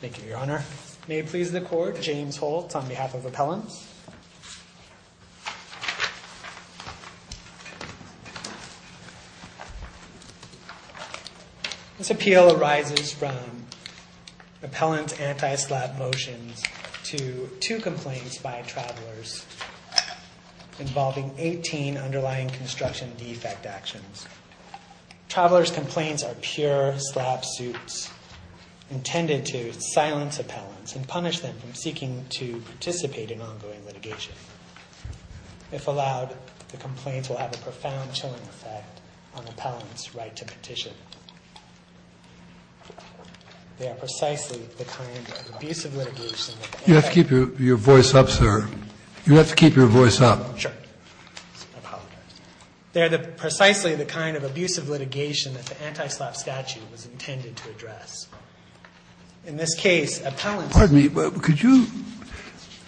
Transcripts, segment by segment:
Thank you, Your Honor. May it please the Court, James Holtz on behalf of Appellant. This appeal arises from Appellant's anti-slap motions to two complaints by Travelers involving 18 underlying construction defect actions. Travelers' complaints are pure slap suits intended to silence Appellants and punish them from seeking to participate in ongoing litigation. If allowed, the complaints will have a profound chilling effect on Appellant's right to petition. They are precisely the kind of abusive litigation that the appellant can't afford. You have to keep your voice up, sir. You have to keep your voice up. Sure. I apologize. They are precisely the kind of abusive litigation that the anti-slap statute was intended to address. In this case, Appellant's ---- Pardon me. Could you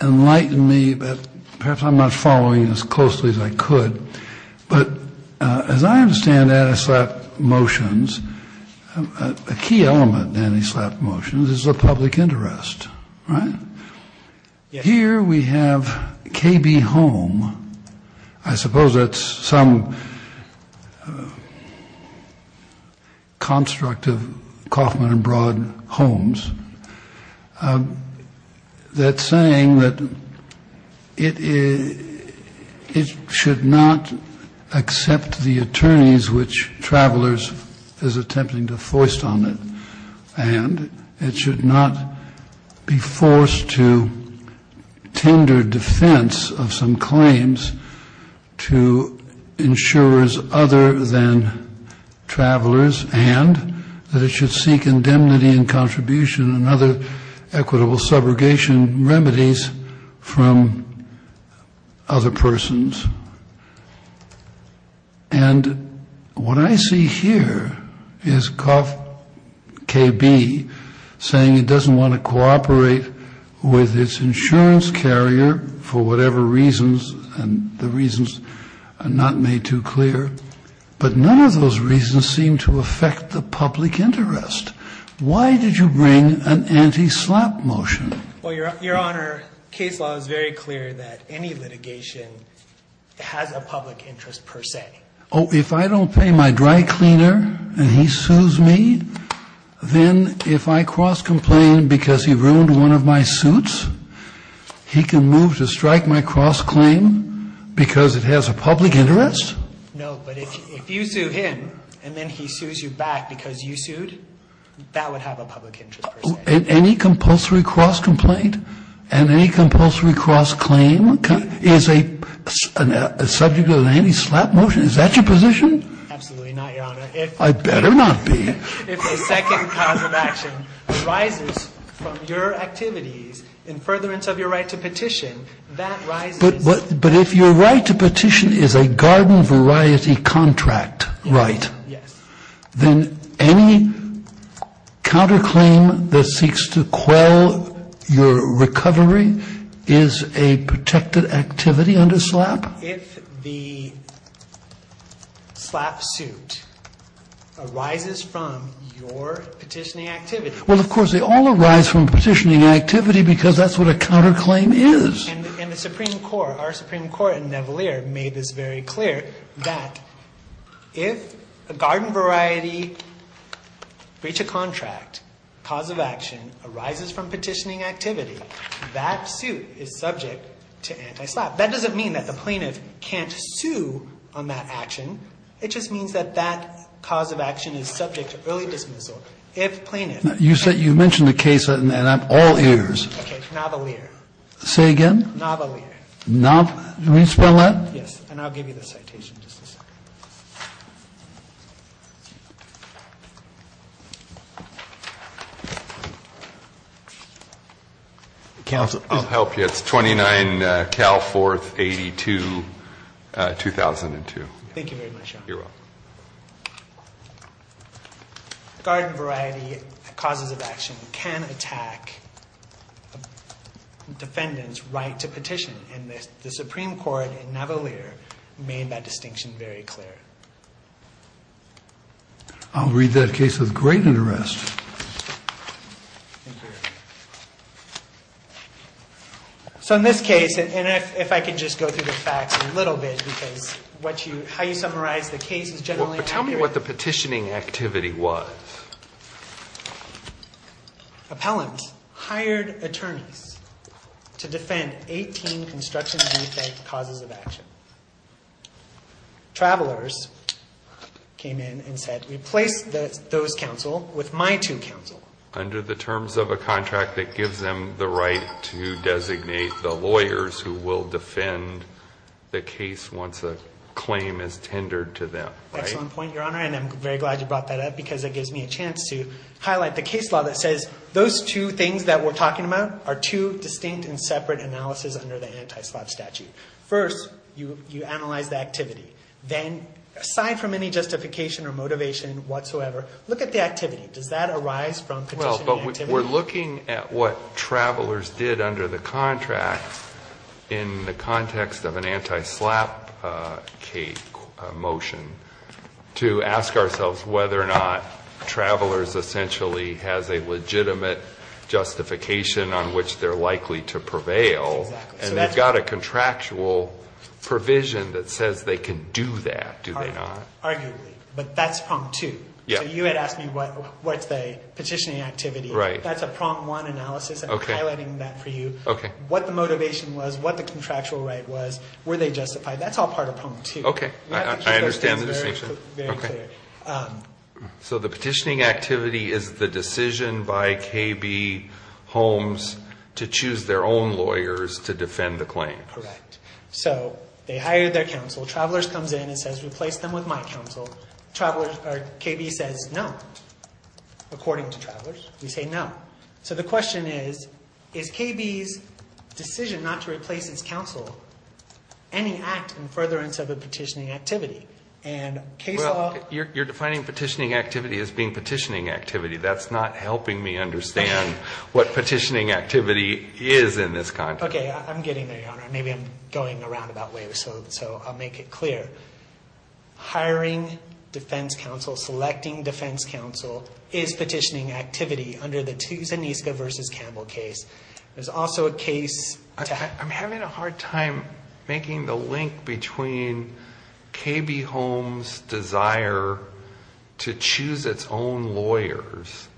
enlighten me? Perhaps I'm not following as closely as I could. But as I understand anti-slap motions, a key element in anti-slap motions is the public interest, right? Yes. Here we have KB Home. I suppose that's some construct of Kauffman and Broad Homes that's saying that it is ---- it should not accept the attorneys which Travelers is attempting to foist on it. And it should not be forced to tender defense of some claims to insurers other than Travelers, and that it should seek indemnity and contribution and other equitable subrogation remedies from other persons. And what I see here is KB saying it doesn't want to cooperate with its insurance carrier for whatever reasons, and the reasons are not made too clear. But none of those reasons seem to affect the public interest. Why did you bring an anti-slap motion? Well, Your Honor, case law is very clear that any litigation has a public interest per se. Oh, if I don't pay my dry cleaner and he sues me, then if I cross-complain because he ruined one of my suits, he can move to strike my cross-claim because it has a public interest? No. But if you sue him and then he sues you back because you sued, that would have a public interest per se. Any compulsory cross-complaint and any compulsory cross-claim is a subject of an anti-slap motion? Is that your position? Absolutely not, Your Honor. I better not be. If a second cause of action arises from your activities in furtherance of your right to petition, that rises. But if your right to petition is a garden variety contract right, then any counterclaim that seeks to quell your recovery is a protected activity under slap? If the slap suit arises from your petitioning activity. Well, of course, they all arise from petitioning activity because that's what a counterclaim is. And the Supreme Court, our Supreme Court in Navalier, made this very clear, that if a garden variety breach of contract cause of action arises from petitioning activity, that suit is subject to anti-slap. That doesn't mean that the plaintiff can't sue on that action. It just means that that cause of action is subject to early dismissal if plaintiff You mentioned a case and I'm all ears. Okay. Navalier. Say again? Navalier. Navalier. Can you spell that? Yes. And I'll give you the citation in just a second. Counsel, I'll help you. It's 29 Cal 4th, 82, 2002. Thank you very much, Your Honor. You're welcome. Garden variety causes of action can attack defendant's right to petition. And the Supreme Court in Navalier made that distinction very clear. I'll read that case with great interest. Thank you. So in this case, and if I could just go through the facts a little bit because how you summarize the case is generally accurate. Tell me what the petitioning activity was. Appellant hired attorneys to defend 18 construction defect causes of action. Travelers came in and said, replace those counsel with my two counsel. Under the terms of a contract that gives them the right to designate the lawyers who will defend the case once a claim is tendered to them. Excellent point, Your Honor. And I'm very glad you brought that up because it gives me a chance to highlight the case law that says those two things that we're talking about are two distinct and separate analysis under the anti-slot statute. First, you analyze the activity. Then, aside from any justification or motivation whatsoever, look at the activity. Does that arise from petitioning activity? Well, but we're looking at what travelers did under the contract in the context of an anti-slap motion to ask ourselves whether or not travelers essentially has a legitimate justification on which they're likely to prevail. Exactly. And they've got a contractual provision that says they can do that, do they not? Arguably. But that's problem two. Yeah. So you had asked me what's the petitioning activity. Right. That's a prompt one analysis. Okay. I'm highlighting that for you. Okay. What the motivation was, what the contractual right was, were they justified? That's all part of prompt two. Okay. I understand the distinction. You have to keep those things very clear. Okay. So the petitioning activity is the decision by KB Holmes to choose their own lawyers to defend the claim. Correct. So they hired their counsel. Travelers comes in and says replace them with my counsel. Travelers, or KB says no. According to travelers, we say no. So the question is, is KB's decision not to replace his counsel any act in furtherance of a petitioning activity? Well, you're defining petitioning activity as being petitioning activity. That's not helping me understand what petitioning activity is in this contract. Okay. I'm getting there, Your Honor. Maybe I'm going around about waves, so I'll make it clear. Hiring defense counsel, selecting defense counsel is petitioning activity under the Zaniska v. Campbell case. There's also a case. I'm having a hard time making the link between KB Holmes' desire to choose its own lawyers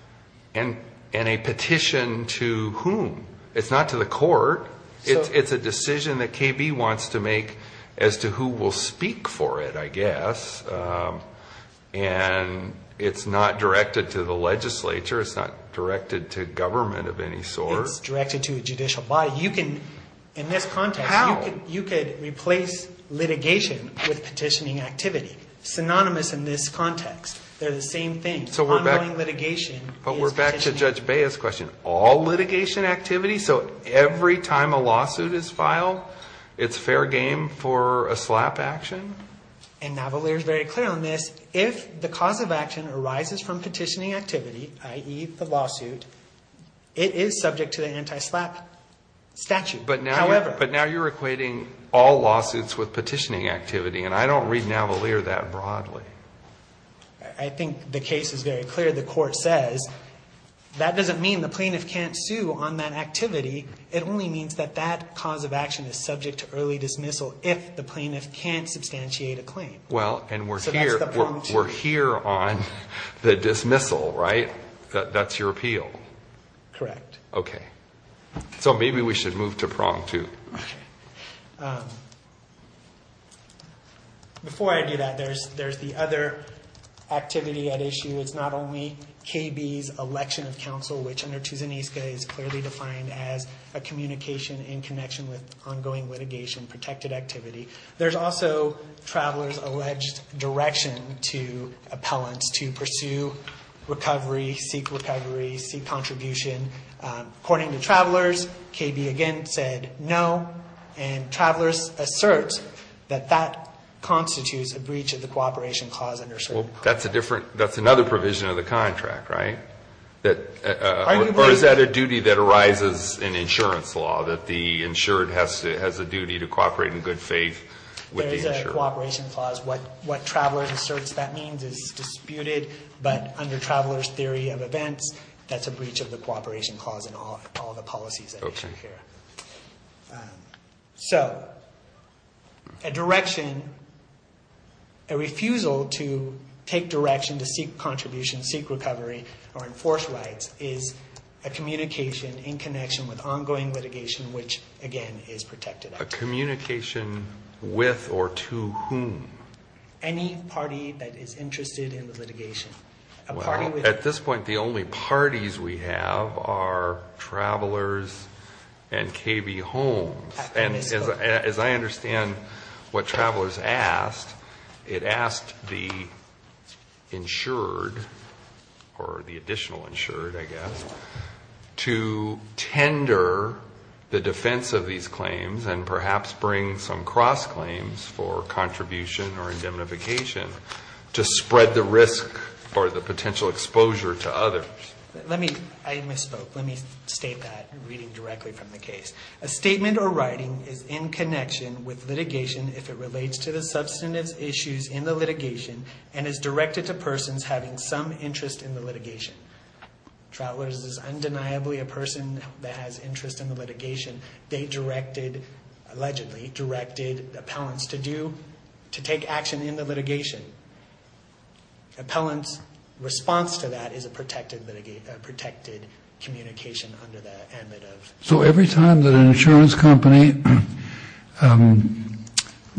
and a petition to whom? It's not to the court. It's a decision that KB wants to make as to who will speak for it, I guess. And it's not directed to the legislature. It's not directed to government of any sort. It's directed to a judicial body. In this context, you could replace litigation with petitioning activity. Synonymous in this context. They're the same thing. Ongoing litigation is petitioning activity. But we're back to Judge Bea's question. Is it all litigation activity? So every time a lawsuit is filed, it's fair game for a slap action? And Navalier is very clear on this. If the cause of action arises from petitioning activity, i.e., the lawsuit, it is subject to the anti-slap statute. However. But now you're equating all lawsuits with petitioning activity, and I don't read Navalier that broadly. I think the case is very clear. The court says that doesn't mean the plaintiff can't sue on that activity. It only means that that cause of action is subject to early dismissal if the plaintiff can't substantiate a claim. Well, and we're here on the dismissal, right? That's your appeal. Correct. Okay. So maybe we should move to prong two. Okay. Before I do that, there's the other activity at issue. It's not only KB's election of counsel, which under Tuzaniska is clearly defined as a communication in connection with ongoing litigation, protected activity. There's also Travelers' alleged direction to appellants to pursue recovery, seek recovery, seek contribution. According to Travelers, KB again said no, and Travelers asserts that that constitutes a breach of the cooperation clause under certain clauses. That's another provision of the contract, right? Or is that a duty that arises in insurance law, that the insured has a duty to cooperate in good faith with the insured? There's a cooperation clause. What Travelers asserts that means is disputed, but under Travelers' theory of events, that's a breach of the cooperation clause in all the policies at issue here. Okay. So a direction, a refusal to take direction to seek contribution, seek recovery, or enforce rights is a communication in connection with ongoing litigation, which again is protected activity. A communication with or to whom? Any party that is interested in the litigation. Well, at this point, the only parties we have are Travelers and KB Homes. And as I understand what Travelers asked, it asked the insured or the additional insured, I guess, to tender the defense of these claims and perhaps bring some cross claims for contribution or indemnification to spread the risk or the potential exposure to others. Let me, I misspoke. Let me state that reading directly from the case. A statement or writing is in connection with litigation if it relates to the substantive issues in the litigation and is directed to persons having some interest in the litigation. Travelers is undeniably a person that has interest in the litigation. They directed, allegedly directed appellants to do, to take action in the litigation. Appellant's response to that is a protected litigation, a protected communication under the ambit of litigation. So every time that an insurance company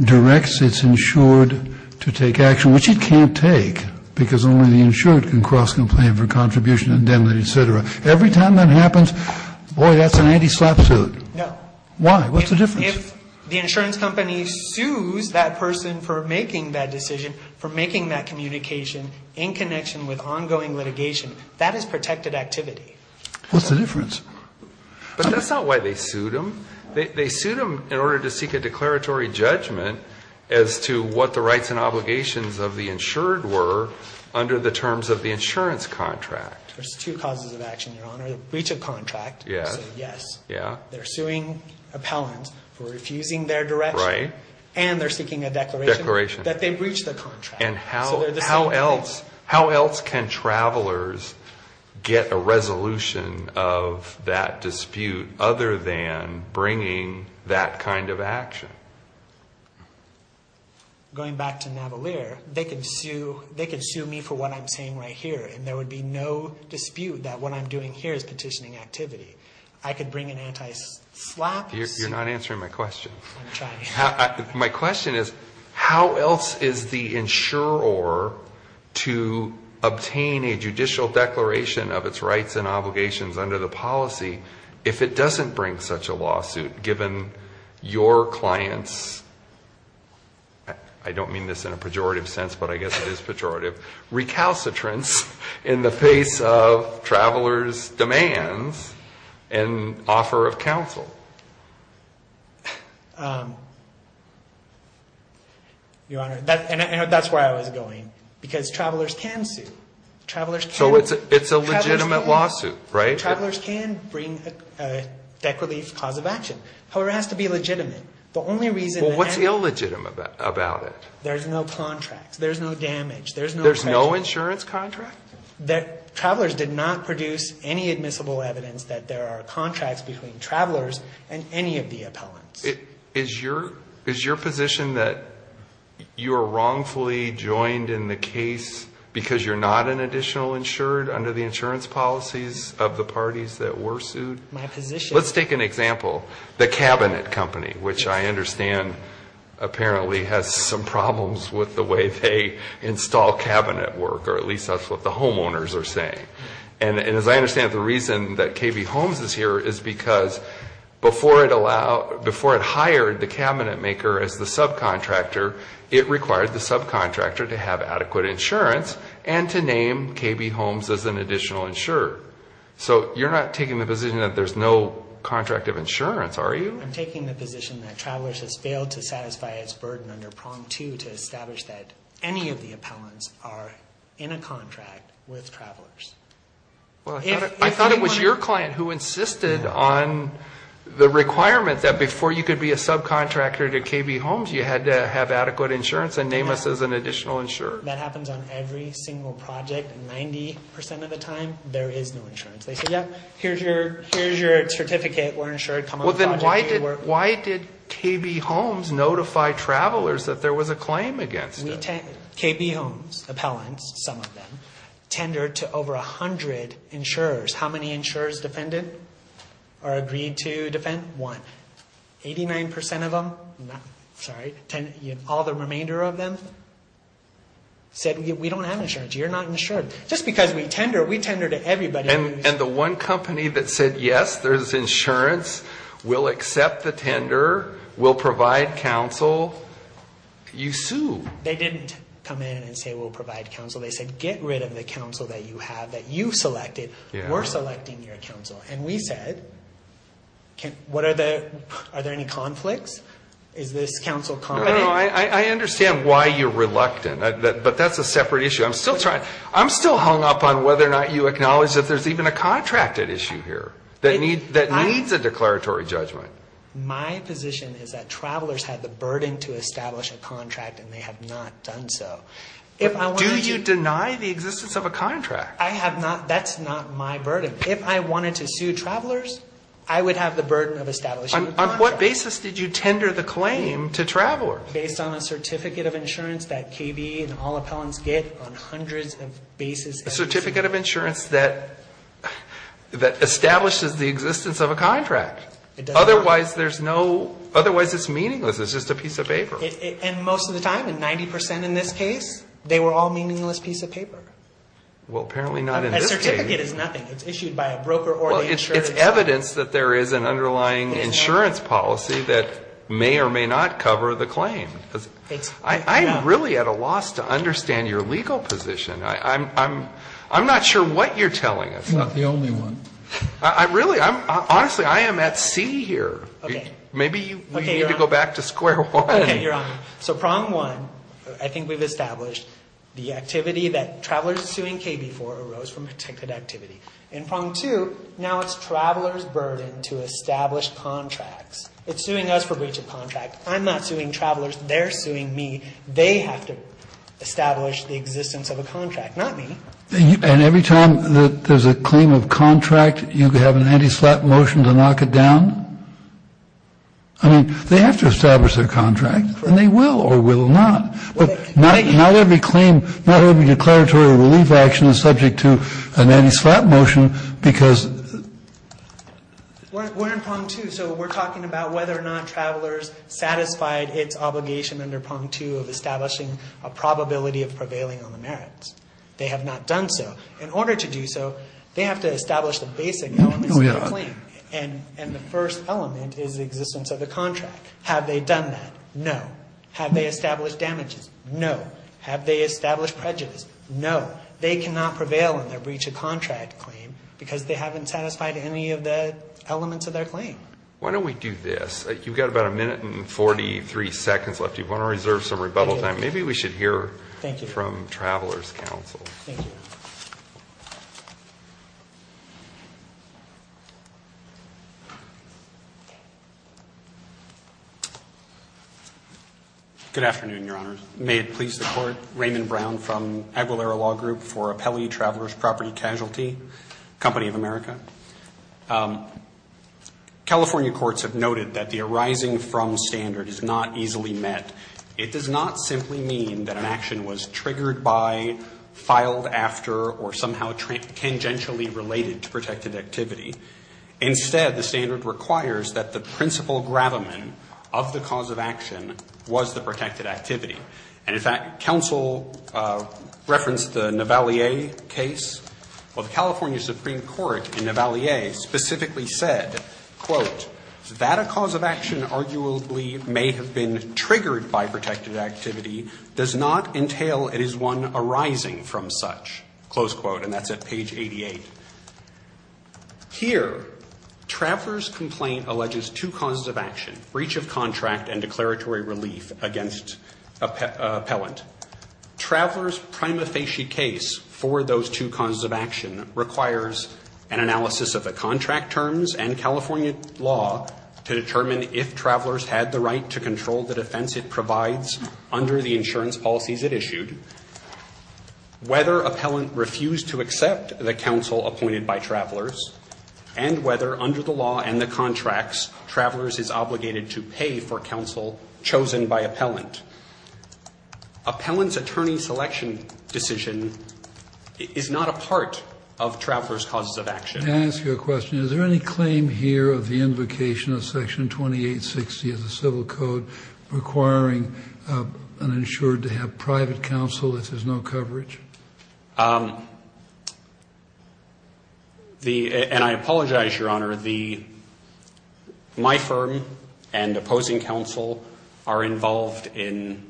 directs its insured to take action, which it can't take because only the insured can cross complain for contribution and indemnity, et cetera. Every time that happens, boy, that's an anti-slapsuit. No. Why? What's the difference? If the insurance company sues that person for making that decision, for making that communication in connection with ongoing litigation, that is protected activity. What's the difference? But that's not why they sued them. They sued them in order to seek a declaratory judgment as to what the rights and obligations of the insured were under the terms of the insurance contract. There's two causes of action, Your Honor. Breach of contract. Yes. Yes. Yeah. They're suing appellant for refusing their direction. Right. And they're seeking a declaration. Declaration. That they breached the contract. And how else can travelers get a resolution of that dispute other than bringing that kind of action? Going back to Navalier, they could sue me for what I'm saying right here, and there would be no dispute that what I'm doing here is petitioning activity. I could bring an anti-slap. You're not answering my question. I'm trying. My question is how else is the insurer to obtain a judicial declaration of its rights and obligations under the policy if it doesn't bring such a lawsuit, given your client's, I don't mean this in a pejorative sense, but I guess it is pejorative, recalcitrance in the face of travelers' demands and offer of counsel. Your Honor, and that's where I was going. Because travelers can sue. So it's a legitimate lawsuit, right? Travelers can bring a debt relief cause of action. However, it has to be legitimate. The only reason. Well, what's illegitimate about it? There's no contract. There's no damage. There's no insurance contract. Travelers did not produce any admissible evidence that there are contracts between travelers and any of the appellants. Is your position that you are wrongfully joined in the case because you're not an additional insured under the insurance policies of the parties that were sued? My position. Let's take an example. The Cabinet Company, which I understand apparently has some problems with the way they install cabinet work, or at least that's what the homeowners are saying. And as I understand it, the reason that KB Homes is here is because before it hired the cabinet maker as the subcontractor, it required the subcontractor to have adequate insurance and to name KB Homes as an additional insurer. So you're not taking the position that there's no contract of insurance, are you? I'm taking the position that Travelers has failed to satisfy its burden under which any of the appellants are in a contract with Travelers. Well, I thought it was your client who insisted on the requirement that before you could be a subcontractor to KB Homes, you had to have adequate insurance and name us as an additional insurer. That happens on every single project. Ninety percent of the time, there is no insurance. They say, yeah, here's your certificate. We're insured. Well, then why did KB Homes notify Travelers that there was a claim against it? KB Homes appellants, some of them, tendered to over 100 insurers. How many insurers defended or agreed to defend? One. Eighty-nine percent of them, sorry, all the remainder of them said, we don't have insurance. You're not insured. Just because we tender, we tender to everybody. And the one company that said, yes, there's insurance, we'll accept the tender, we'll provide counsel, you sue. They didn't come in and say, we'll provide counsel. They said, get rid of the counsel that you have, that you selected. We're selecting your counsel. And we said, are there any conflicts? Is this counsel confident? No, I understand why you're reluctant, but that's a separate issue. I'm still hung up on whether or not you acknowledge that there's even a contracted issue here that needs a declaratory judgment. My position is that Travelers had the burden to establish a contract and they have not done so. Do you deny the existence of a contract? I have not. That's not my burden. If I wanted to sue Travelers, I would have the burden of establishing a contract. On what basis did you tender the claim to Travelers? Based on a certificate of insurance that KB and all appellants get on hundreds of basis. A certificate of insurance that establishes the existence of a contract. Otherwise, there's no, otherwise it's meaningless. It's just a piece of paper. And most of the time, in 90% in this case, they were all meaningless piece of paper. Well, apparently not in this case. A certificate is nothing. It's issued by a broker or the insurance company. Well, it's evidence that there is an underlying insurance policy that may or may not cover the claim. I'm really at a loss to understand your legal position. I'm not sure what you're telling us. I'm not the only one. Really, honestly, I am at sea here. Okay. Maybe you need to go back to square one. Okay, you're on. So, prong one, I think we've established the activity that Travelers suing KB for arose from protected activity. And prong two, now it's Travelers' burden to establish contracts. It's suing us for breach of contract. I'm not suing Travelers. They're suing me. They have to establish the existence of a contract, not me. And every time there's a claim of contract, you have an anti-slap motion to knock it down? I mean, they have to establish their contract, and they will or will not. But not every claim, not every declaratory relief action is subject to an anti-slap motion because... We're in prong two. So, we're talking about whether or not Travelers satisfied its obligation under prong two of establishing a probability of prevailing on the merits. They have not done so. In order to do so, they have to establish the basic moments of the claim. And the first element is the existence of the contract. Have they done that? No. Have they established damages? No. Have they established prejudice? No. They cannot prevail on their breach of contract claim because they haven't satisfied any of the elements of their claim. Why don't we do this? You've got about a minute and 43 seconds left. You want to reserve some rebuttal time. Maybe we should hear from Travelers' counsel. Thank you. Good afternoon, Your Honors. May it please the Court. Raymond Brown from Aguilera Law Group for Appellee Travelers' Property Casualty, Company of America. California courts have noted that the arising from standard is not easily met. It does not simply mean that an action was triggered by, filed after, or somehow tangentially related to protected activity. Instead, the standard requires that the principal gravamen of the cause of action was the protected activity. And, in fact, counsel referenced the Navalier case. Well, the California Supreme Court in Navalier specifically said, quote, that a cause of action arguably may have been triggered by protected activity does not entail it is one arising from such, close quote. And that's at page 88. Here, Travelers' complaint alleges two causes of action, breach of contract and declaratory relief against appellant. Travelers' prima facie case for those two causes of action requires an analysis of the contract terms and California law to determine if Travelers had the right to control the defense it provides under the insurance policies it issued, whether appellant refused to accept the counsel appointed by Travelers, and whether under the law and the contracts Travelers is obligated to pay for counsel chosen by appellant. Appellant's attorney selection decision is not a part of Travelers' causes of action. Let me ask you a question. Is there any claim here of the invocation of Section 2860 of the Civil Code requiring an insurer to have private counsel if there's no coverage? And I apologize, Your Honor. My firm and opposing counsel are involved in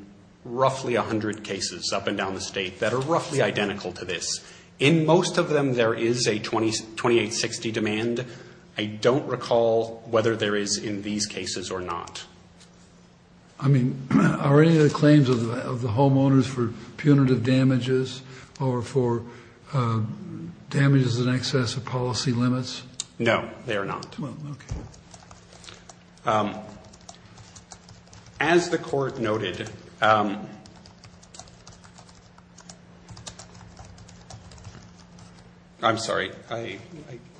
roughly 100 cases up and down the state that are roughly identical to this. In most of them there is a 2860 demand. I don't recall whether there is in these cases or not. I mean, are any of the claims of the homeowners for punitive damages or for damages in excess of policy limits? No, they are not. Well, okay. As the Court noted, I'm sorry, I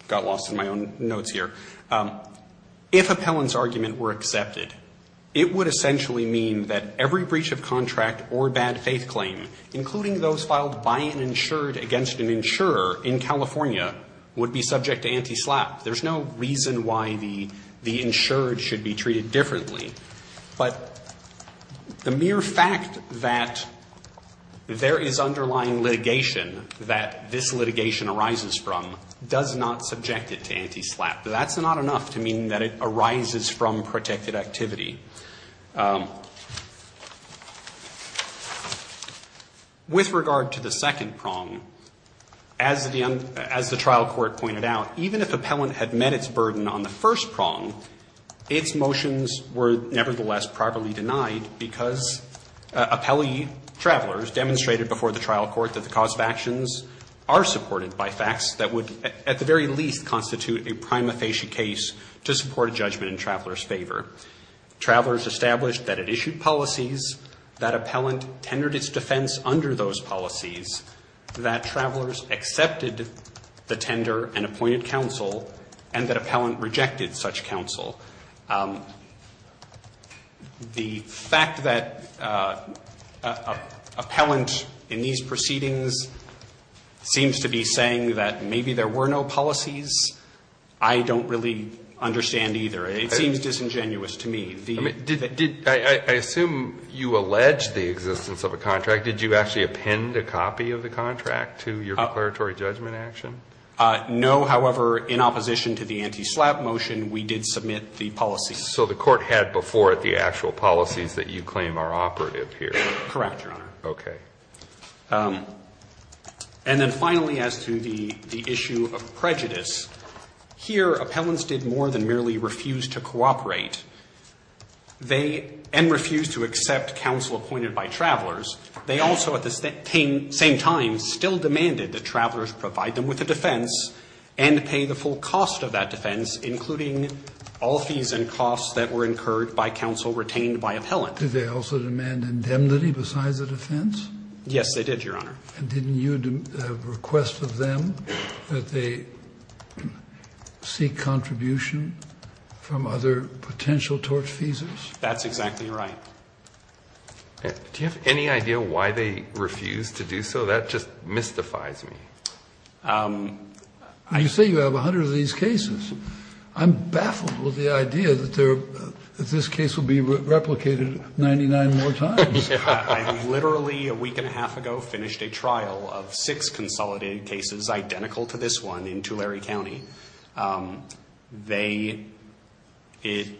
got lost in my own notes here. If appellant's argument were accepted, it would essentially mean that every breach of contract or bad faith claim, including those filed by an insured against an insurer in California, would be subject to anti-SLAPP. There's no reason why the insured should be treated differently. But the mere fact that there is underlying litigation that this litigation arises from does not subject it to anti-SLAPP. That's not enough to mean that it arises from protected activity. With regard to the second prong, as the trial court pointed out, even if appellant had met its burden on the first prong, its motions were nevertheless privately denied because appellee travelers demonstrated before the trial court that the cause of actions are supported by facts that would at the very least constitute a prima facie case to support a judgment in travelers' favor. Travelers established that it issued policies, that appellant tendered its defense under those policies, that travelers accepted the tender and appointed counsel, and that appellant rejected such counsel. The fact that appellant in these proceedings seems to be in favor of appellant would be saying that maybe there were no policies. I don't really understand either. It seems disingenuous to me. The ---- I mean, did the ---- I assume you allege the existence of a contract. Did you actually append a copy of the contract to your declaratory judgment action? No. However, in opposition to the anti-SLAPP motion, we did submit the policies. So the court had before it the actual policies that you claim are operative Correct, Your Honor. Okay. And then finally, as to the issue of prejudice, here appellants did more than merely refuse to cooperate. They ---- and refused to accept counsel appointed by travelers. They also at the same time still demanded that travelers provide them with a defense and pay the full cost of that defense, including all fees and costs that were incurred by counsel retained by appellant. Did they also demand indemnity besides the defense? Yes, they did, Your Honor. And didn't you request of them that they seek contribution from other potential torch fees? That's exactly right. Do you have any idea why they refused to do so? That just mystifies me. You say you have a hundred of these cases. I'm baffled with the idea that this case will be replicated 99 more times. I literally a week and a half ago finished a trial of six consolidated cases identical to this one in Tulare County. They ----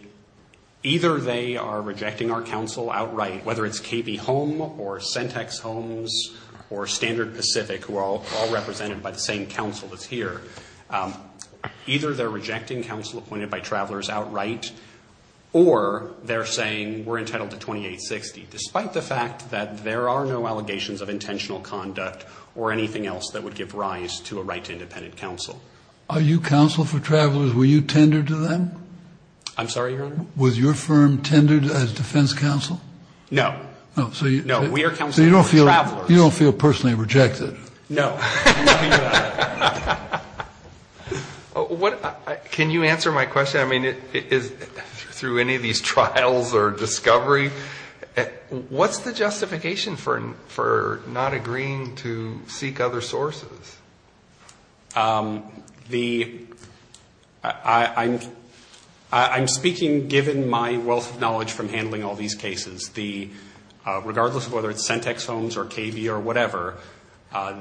either they are rejecting our counsel outright, whether it's KB Home or Centex Homes or Standard Pacific, who are all represented by the same counsel that's here. Either they're rejecting counsel appointed by travelers outright or they're saying we're entitled to 2860, despite the fact that there are no allegations of intentional conduct or anything else that would give rise to a right to independent counsel. Are you counsel for travelers? Were you tendered to them? I'm sorry, Your Honor? Was your firm tendered as defense counsel? No. No, we are counsel for travelers. So you don't feel personally rejected? No. Can you answer my question? I mean, through any of these trials or discovery, what's the justification for not agreeing to seek other sources? The ---- I'm speaking given my wealth of knowledge from handling all these cases. Regardless of whether it's Centex Homes or KB or whatever,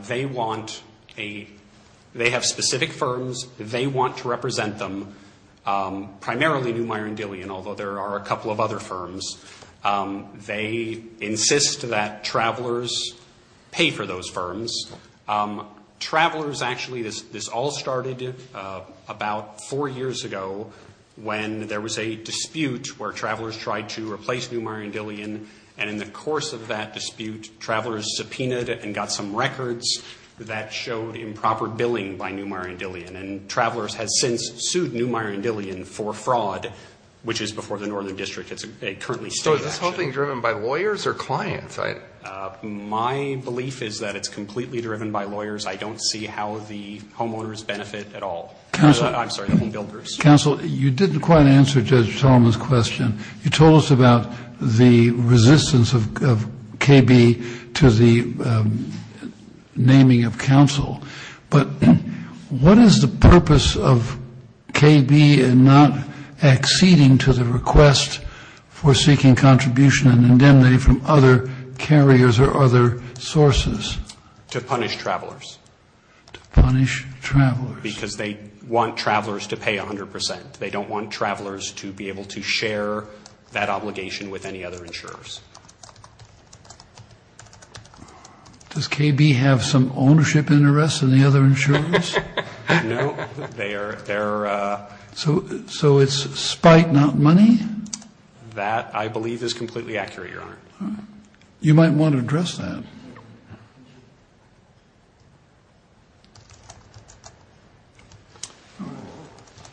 they want a ---- they have specific firms. They want to represent them, primarily Neumayer & Dillian, although there are a couple of other firms. They insist that travelers pay for those firms. Travelers actually ---- this all started about four years ago when there was a dispute where travelers tried to replace Neumayer & Dillian, and in the course of that dispute, travelers subpoenaed and got some records that showed improper billing by Neumayer & Dillian, and travelers have since sued Neumayer & Dillian for fraud, which is before the Northern District. It's a currently stated action. So is this whole thing driven by lawyers or clients? My belief is that it's completely driven by lawyers. I don't see how the homeowners benefit at all. I'm sorry, the homebuilders. Counsel, you didn't quite answer Judge Solomon's question. You told us about the resistance of KB to the naming of counsel. But what is the purpose of KB in not acceding to the request for seeking contribution and indemnity from other carriers or other sources? To punish travelers. To punish travelers. Because they want travelers to pay 100%. They don't want travelers to be able to share that obligation with any other insurers. Does KB have some ownership interests in the other insurers? No. So it's spite, not money? That, I believe, is completely accurate, Your Honor. You might want to address that.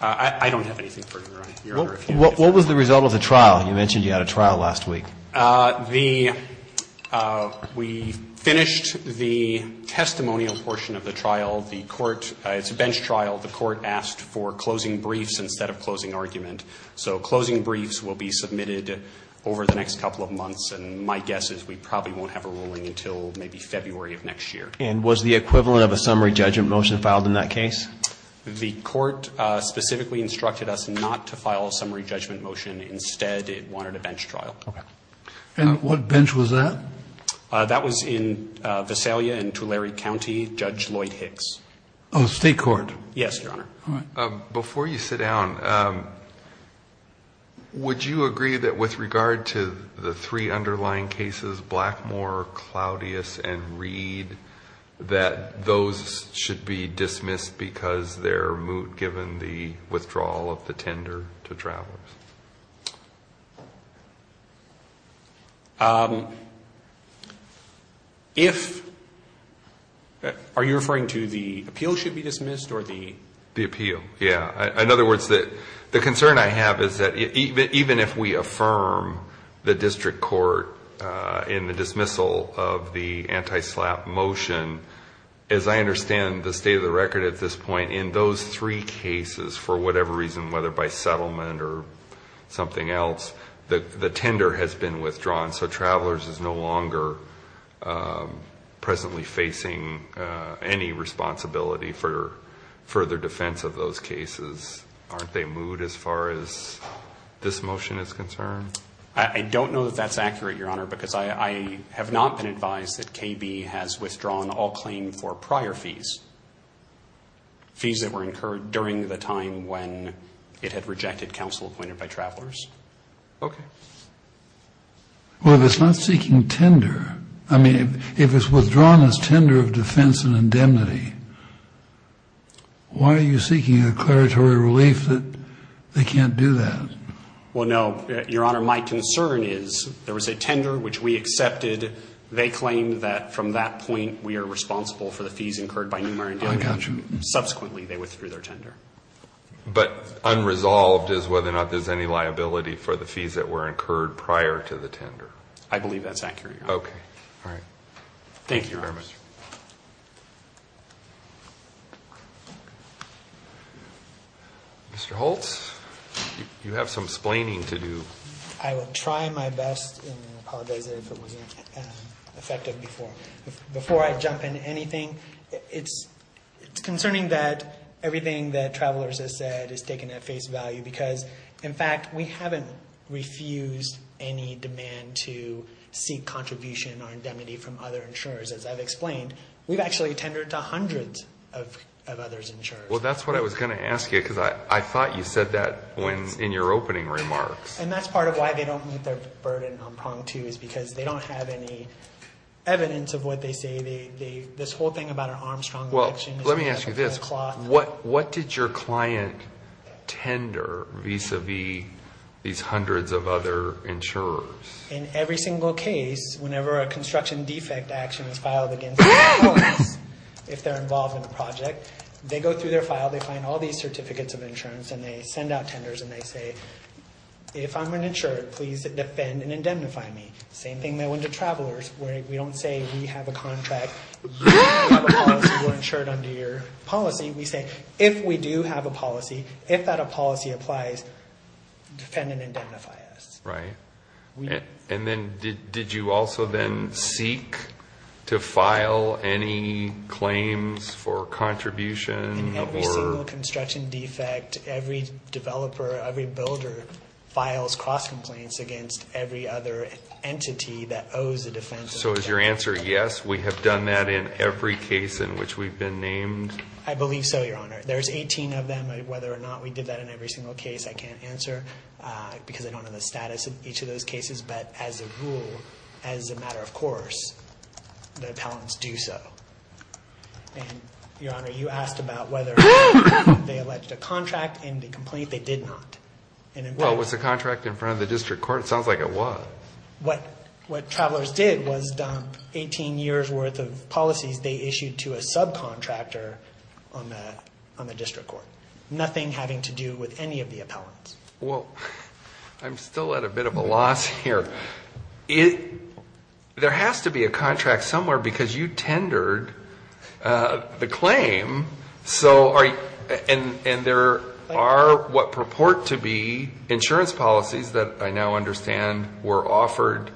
I don't have anything further, Your Honor. What was the result of the trial? You mentioned you had a trial last week. We finished the testimonial portion of the trial. It's a bench trial. The court asked for closing briefs instead of closing argument. So closing briefs will be submitted over the next couple of months. And my guess is we probably won't have a ruling until maybe February of next year. And was the equivalent of a summary judgment motion filed in that case? The court specifically instructed us not to file a summary judgment motion. Instead, it wanted a bench trial. Okay. And what bench was that? That was in Visalia and Tulare County, Judge Lloyd Hicks. Oh, state court. Yes, Your Honor. Before you sit down, would you agree that with regard to the three underlying cases, Blackmore, Claudius, and Reed, that those should be dismissed because they're moot given the withdrawal of the tender to travelers? Are you referring to the appeal should be dismissed or the? The appeal. Yeah. In other words, the concern I have is that even if we affirm the district court in the dismissal of the anti-SLAPP motion, as I understand the state of the record at this point, for whatever reason, whether by settlement or something else, the tender has been withdrawn. So travelers is no longer presently facing any responsibility for further defense of those cases. Aren't they moot as far as this motion is concerned? I don't know that that's accurate, Your Honor, because I have not been advised that KB has withdrawn all claim for prior fees. Fees that were incurred during the time when it had rejected counsel appointed by travelers. Okay. Well, if it's not seeking tender, I mean, if it's withdrawn as tender of defense and indemnity, why are you seeking a declaratory relief that they can't do that? Well, no. Your Honor, my concern is there was a tender which we accepted. They claim that from that point we are responsible for the fees incurred by Newmare and Indiana. I got you. Subsequently, they withdrew their tender. But unresolved is whether or not there's any liability for the fees that were incurred prior to the tender. I believe that's accurate, Your Honor. Okay. All right. Thank you, Your Honor. Mr. Holtz, you have some explaining to do. I will try my best and apologize if it wasn't effective before. Before I jump into anything, it's concerning that everything that Travelers has said is taken at face value because, in fact, we haven't refused any demand to seek contribution or indemnity from other insurers. As I've explained, we've actually tendered to hundreds of others insurers. Well, that's what I was going to ask you because I thought you said that in your opening remarks. And that's part of why they don't meet their burden on prong two is because they don't have any evidence of what they say. This whole thing about an Armstrong eviction. Well, let me ask you this. What did your client tender vis-a-vis these hundreds of other insurers? In every single case, whenever a construction defect action is filed against Travelers, if they're involved in a project, they go through their file, they find all these certificates of insurance, and they send out tenders and they say, if I'm uninsured, please defend and indemnify me. Same thing that went to Travelers where we don't say we have a contract, you have a policy, we're insured under your policy. We say, if we do have a policy, if that policy applies, defend and indemnify us. Right. And then did you also then seek to file any claims for contribution? In every single construction defect, every developer, every builder files cross-complaints against every other entity that owes a defense. So is your answer yes, we have done that in every case in which we've been named? I believe so, Your Honor. There's 18 of them. I don't know whether or not we did that in every single case. I can't answer because I don't know the status of each of those cases. But as a rule, as a matter of course, the appellants do so. And, Your Honor, you asked about whether they alleged a contract in the complaint. They did not. Well, was the contract in front of the district court? It sounds like it was. What Travelers did was dump 18 years' worth of policies they issued to a subcontractor on the district court, nothing having to do with any of the appellants. Well, I'm still at a bit of a loss here. There has to be a contract somewhere because you tendered the claim. And there are what purport to be insurance policies that I now understand were offered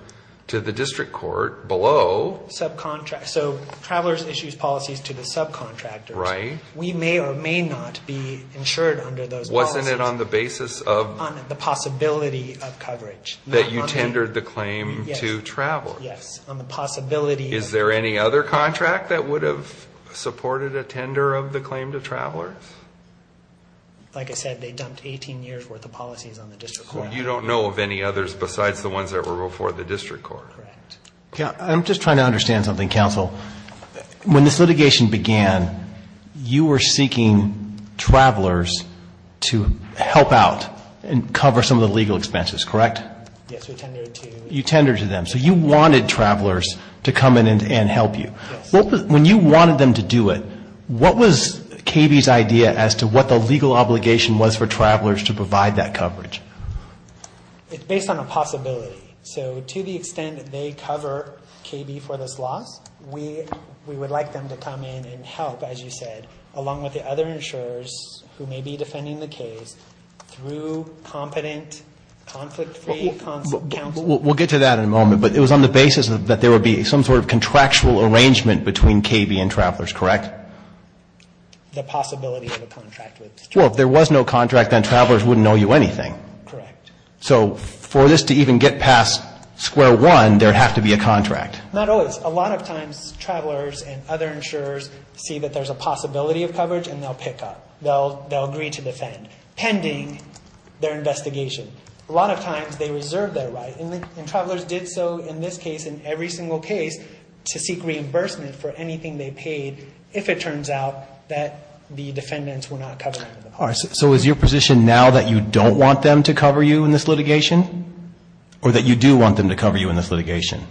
to the district court below. So Travelers issues policies to the subcontractors. Right. We may or may not be insured under those policies. Wasn't it on the basis of? On the possibility of coverage. That you tendered the claim to Travelers. Yes, on the possibility of. Is there any other contract that would have supported a tender of the claim to Travelers? Like I said, they dumped 18 years' worth of policies on the district court. So you don't know of any others besides the ones that were before the district court. Correct. I'm just trying to understand something, counsel. When this litigation began, you were seeking Travelers to help out and cover some of the legal expenses, correct? Yes, we tendered to. You tendered to them. So you wanted Travelers to come in and help you. Yes. When you wanted them to do it, what was KB's idea as to what the legal obligation was for Travelers to provide that coverage? It's based on a possibility. So to the extent that they cover KB for this loss, we would like them to come in and help, as you said, along with the other insurers who may be defending the case through competent, conflict-free counsel. We'll get to that in a moment. But it was on the basis that there would be some sort of contractual arrangement between KB and Travelers, correct? The possibility of a contract with Travelers. Well, if there was no contract, then Travelers wouldn't owe you anything. Correct. So for this to even get past square one, there would have to be a contract. Not always. A lot of times Travelers and other insurers see that there's a possibility of coverage and they'll pick up. They'll agree to defend, pending their investigation. A lot of times they reserve their right, and Travelers did so in this case and every single case, to seek reimbursement for anything they paid if it turns out that the defendants were not covering for them. All right. So is your position now that you don't want them to cover you in this litigation, or that you do want them to cover you in this litigation?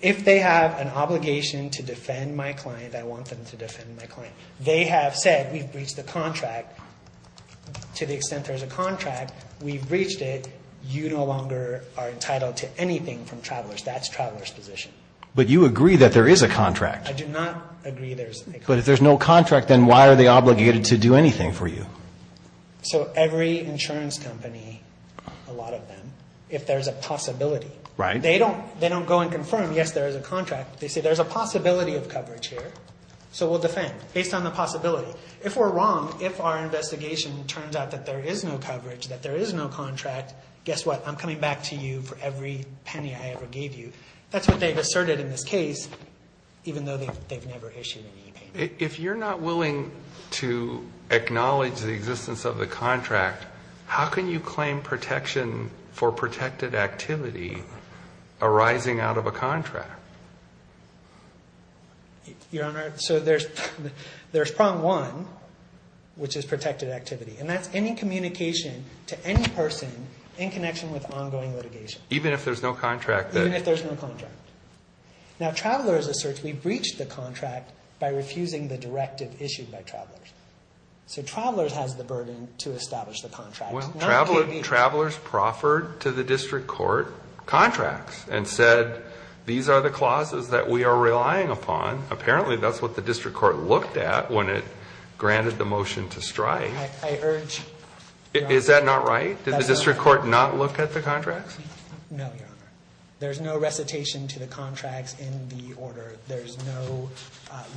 If they have an obligation to defend my client, I want them to defend my client. They have said we've breached the contract to the extent there's a contract. We've breached it. You no longer are entitled to anything from Travelers. That's Travelers' position. I do not agree there's a contract. But if there's no contract, then why are they obligated to do anything for you? So every insurance company, a lot of them, if there's a possibility. Right. They don't go and confirm, yes, there is a contract. They say there's a possibility of coverage here, so we'll defend based on the possibility. If we're wrong, if our investigation turns out that there is no coverage, that there is no contract, guess what, I'm coming back to you for every penny I ever gave you. That's what they've asserted in this case, even though they've never issued any payment. If you're not willing to acknowledge the existence of the contract, how can you claim protection for protected activity arising out of a contract? Your Honor, so there's prong one, which is protected activity, and that's any communication to any person in connection with ongoing litigation. Even if there's no contract? Even if there's no contract. Now, Travelers asserts we breached the contract by refusing the directive issued by Travelers. So Travelers has the burden to establish the contract. Travelers proffered to the district court contracts and said, these are the clauses that we are relying upon. Apparently, that's what the district court looked at when it granted the motion to strike. I urge... Is that not right? Did the district court not look at the contracts? No, Your Honor. There's no recitation to the contracts in the order. There's no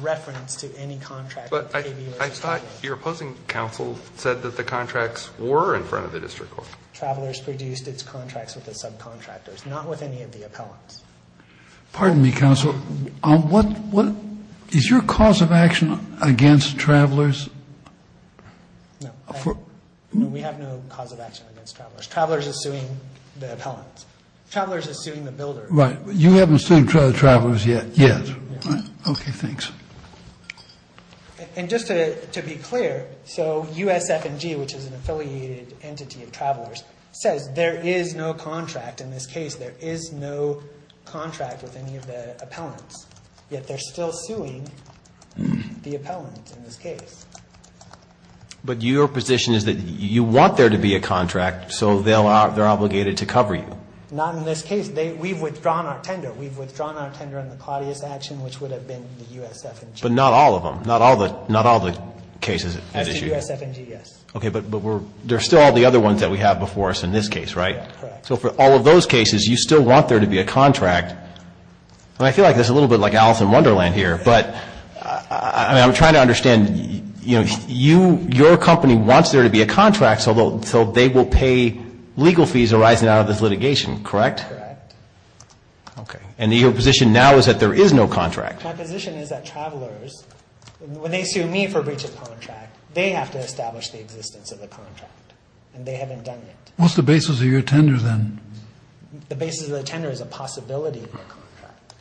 reference to any contract. But I thought your opposing counsel said that the contracts were in front of the district court. Travelers produced its contracts with the subcontractors, not with any of the appellants. Pardon me, counsel. Is your cause of action against Travelers? No. We have no cause of action against Travelers. Travelers is suing the appellants. Travelers is suing the builders. Right. You haven't sued Travelers yet? Yes. Okay. Thanks. And just to be clear, so USF&G, which is an affiliated entity of Travelers, says there is no contract in this case. There is no contract with any of the appellants. Yet they're still suing the appellants in this case. But your position is that you want there to be a contract, so they're obligated to cover you. Not in this case. We've withdrawn our tender. We've withdrawn our tender on the Claudius action, which would have been the USF&G. But not all of them. Not all the cases at issue. It's the USF&G, yes. Okay. But there are still all the other ones that we have before us in this case, right? Correct. So for all of those cases, you still want there to be a contract. And I feel like this is a little bit like Alice in Wonderland here. But I'm trying to understand, you know, your company wants there to be a contract so they will pay legal fees arising out of this litigation, correct? Correct. Okay. And your position now is that there is no contract. My position is that Travelers, when they sue me for breach of contract, they have to establish the existence of the contract. And they haven't done it. What's the basis of your tender then? The basis of the tender is a possibility of a contract.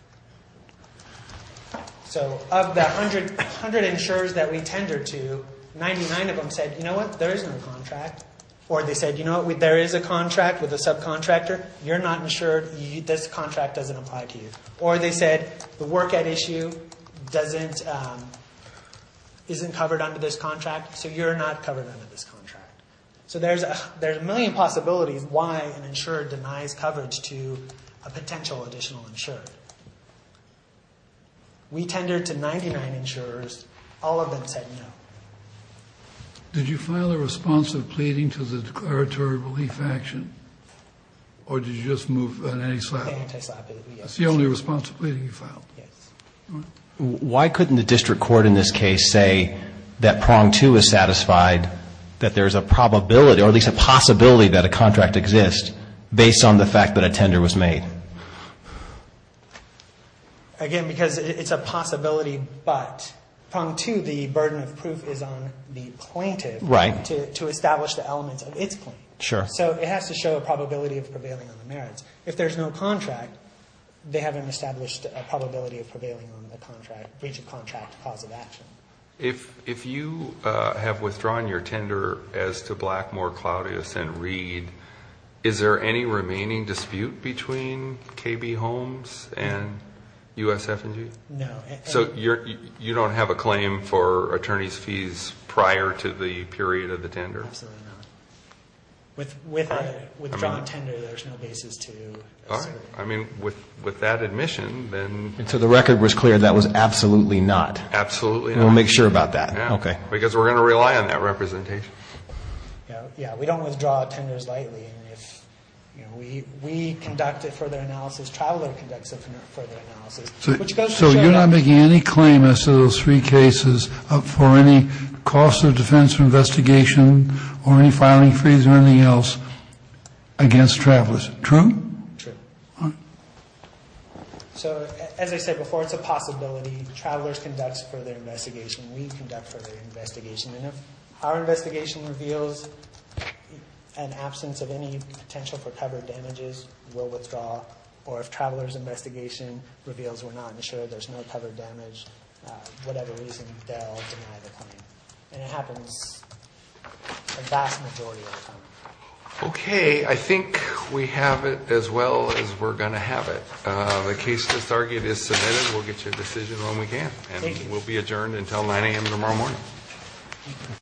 So of the 100 insurers that we tendered to, 99 of them said, you know what, there is no contract. Or they said, you know what, there is a contract with a subcontractor. You're not insured. This contract doesn't apply to you. Or they said, the work at issue isn't covered under this contract, so you're not covered under this contract. So there's a million possibilities why an insurer denies coverage to a potential additional insurer. We tendered to 99 insurers. All of them said no. Did you file a response of pleading to the declaratory relief action? Or did you just move an anti-slap? Anti-slap, yes. That's the only response of pleading you filed? Yes. Why couldn't the district court in this case say that prong two is satisfied, that there's a probability or at least a possibility that a contract exists based on the fact that a tender was made? Again, because it's a possibility, but prong two, the burden of proof is on the plaintiff to establish the elements of its claim. Sure. So it has to show a probability of prevailing on the merits. If there's no contract, they haven't established a probability of prevailing on the breach of contract cause of action. If you have withdrawn your tender as to Blackmore, Claudius, and Reed, is there any remaining dispute between KB Homes and USF&G? No. So you don't have a claim for attorney's fees prior to the period of the tender? Absolutely not. With a withdrawn tender, there's no basis to assert. All right. I mean, with that admission, then — So the record was clear that was absolutely not? Absolutely not. We'll make sure about that. Yeah. Okay. Because we're going to rely on that representation. Yeah. We don't withdraw tenders lightly. We conduct a further analysis. Traveler conducts a further analysis. So you're not making any claim as to those three cases for any cost of defense investigation or any filing fees or anything else against travelers. True? True. All right. So, as I said before, it's a possibility. Travelers conduct further investigation. We conduct further investigation. And if our investigation reveals an absence of any potential for covered damages, we'll withdraw. Or if traveler's investigation reveals we're not insured, there's no covered damage, whatever reason, they'll deny the claim. And it happens a vast majority of the time. Okay. I think we have it as well as we're going to have it. The case as argued is submitted. We'll get you a decision when we can. Thank you. And we'll be adjourned until 9 a.m. tomorrow morning.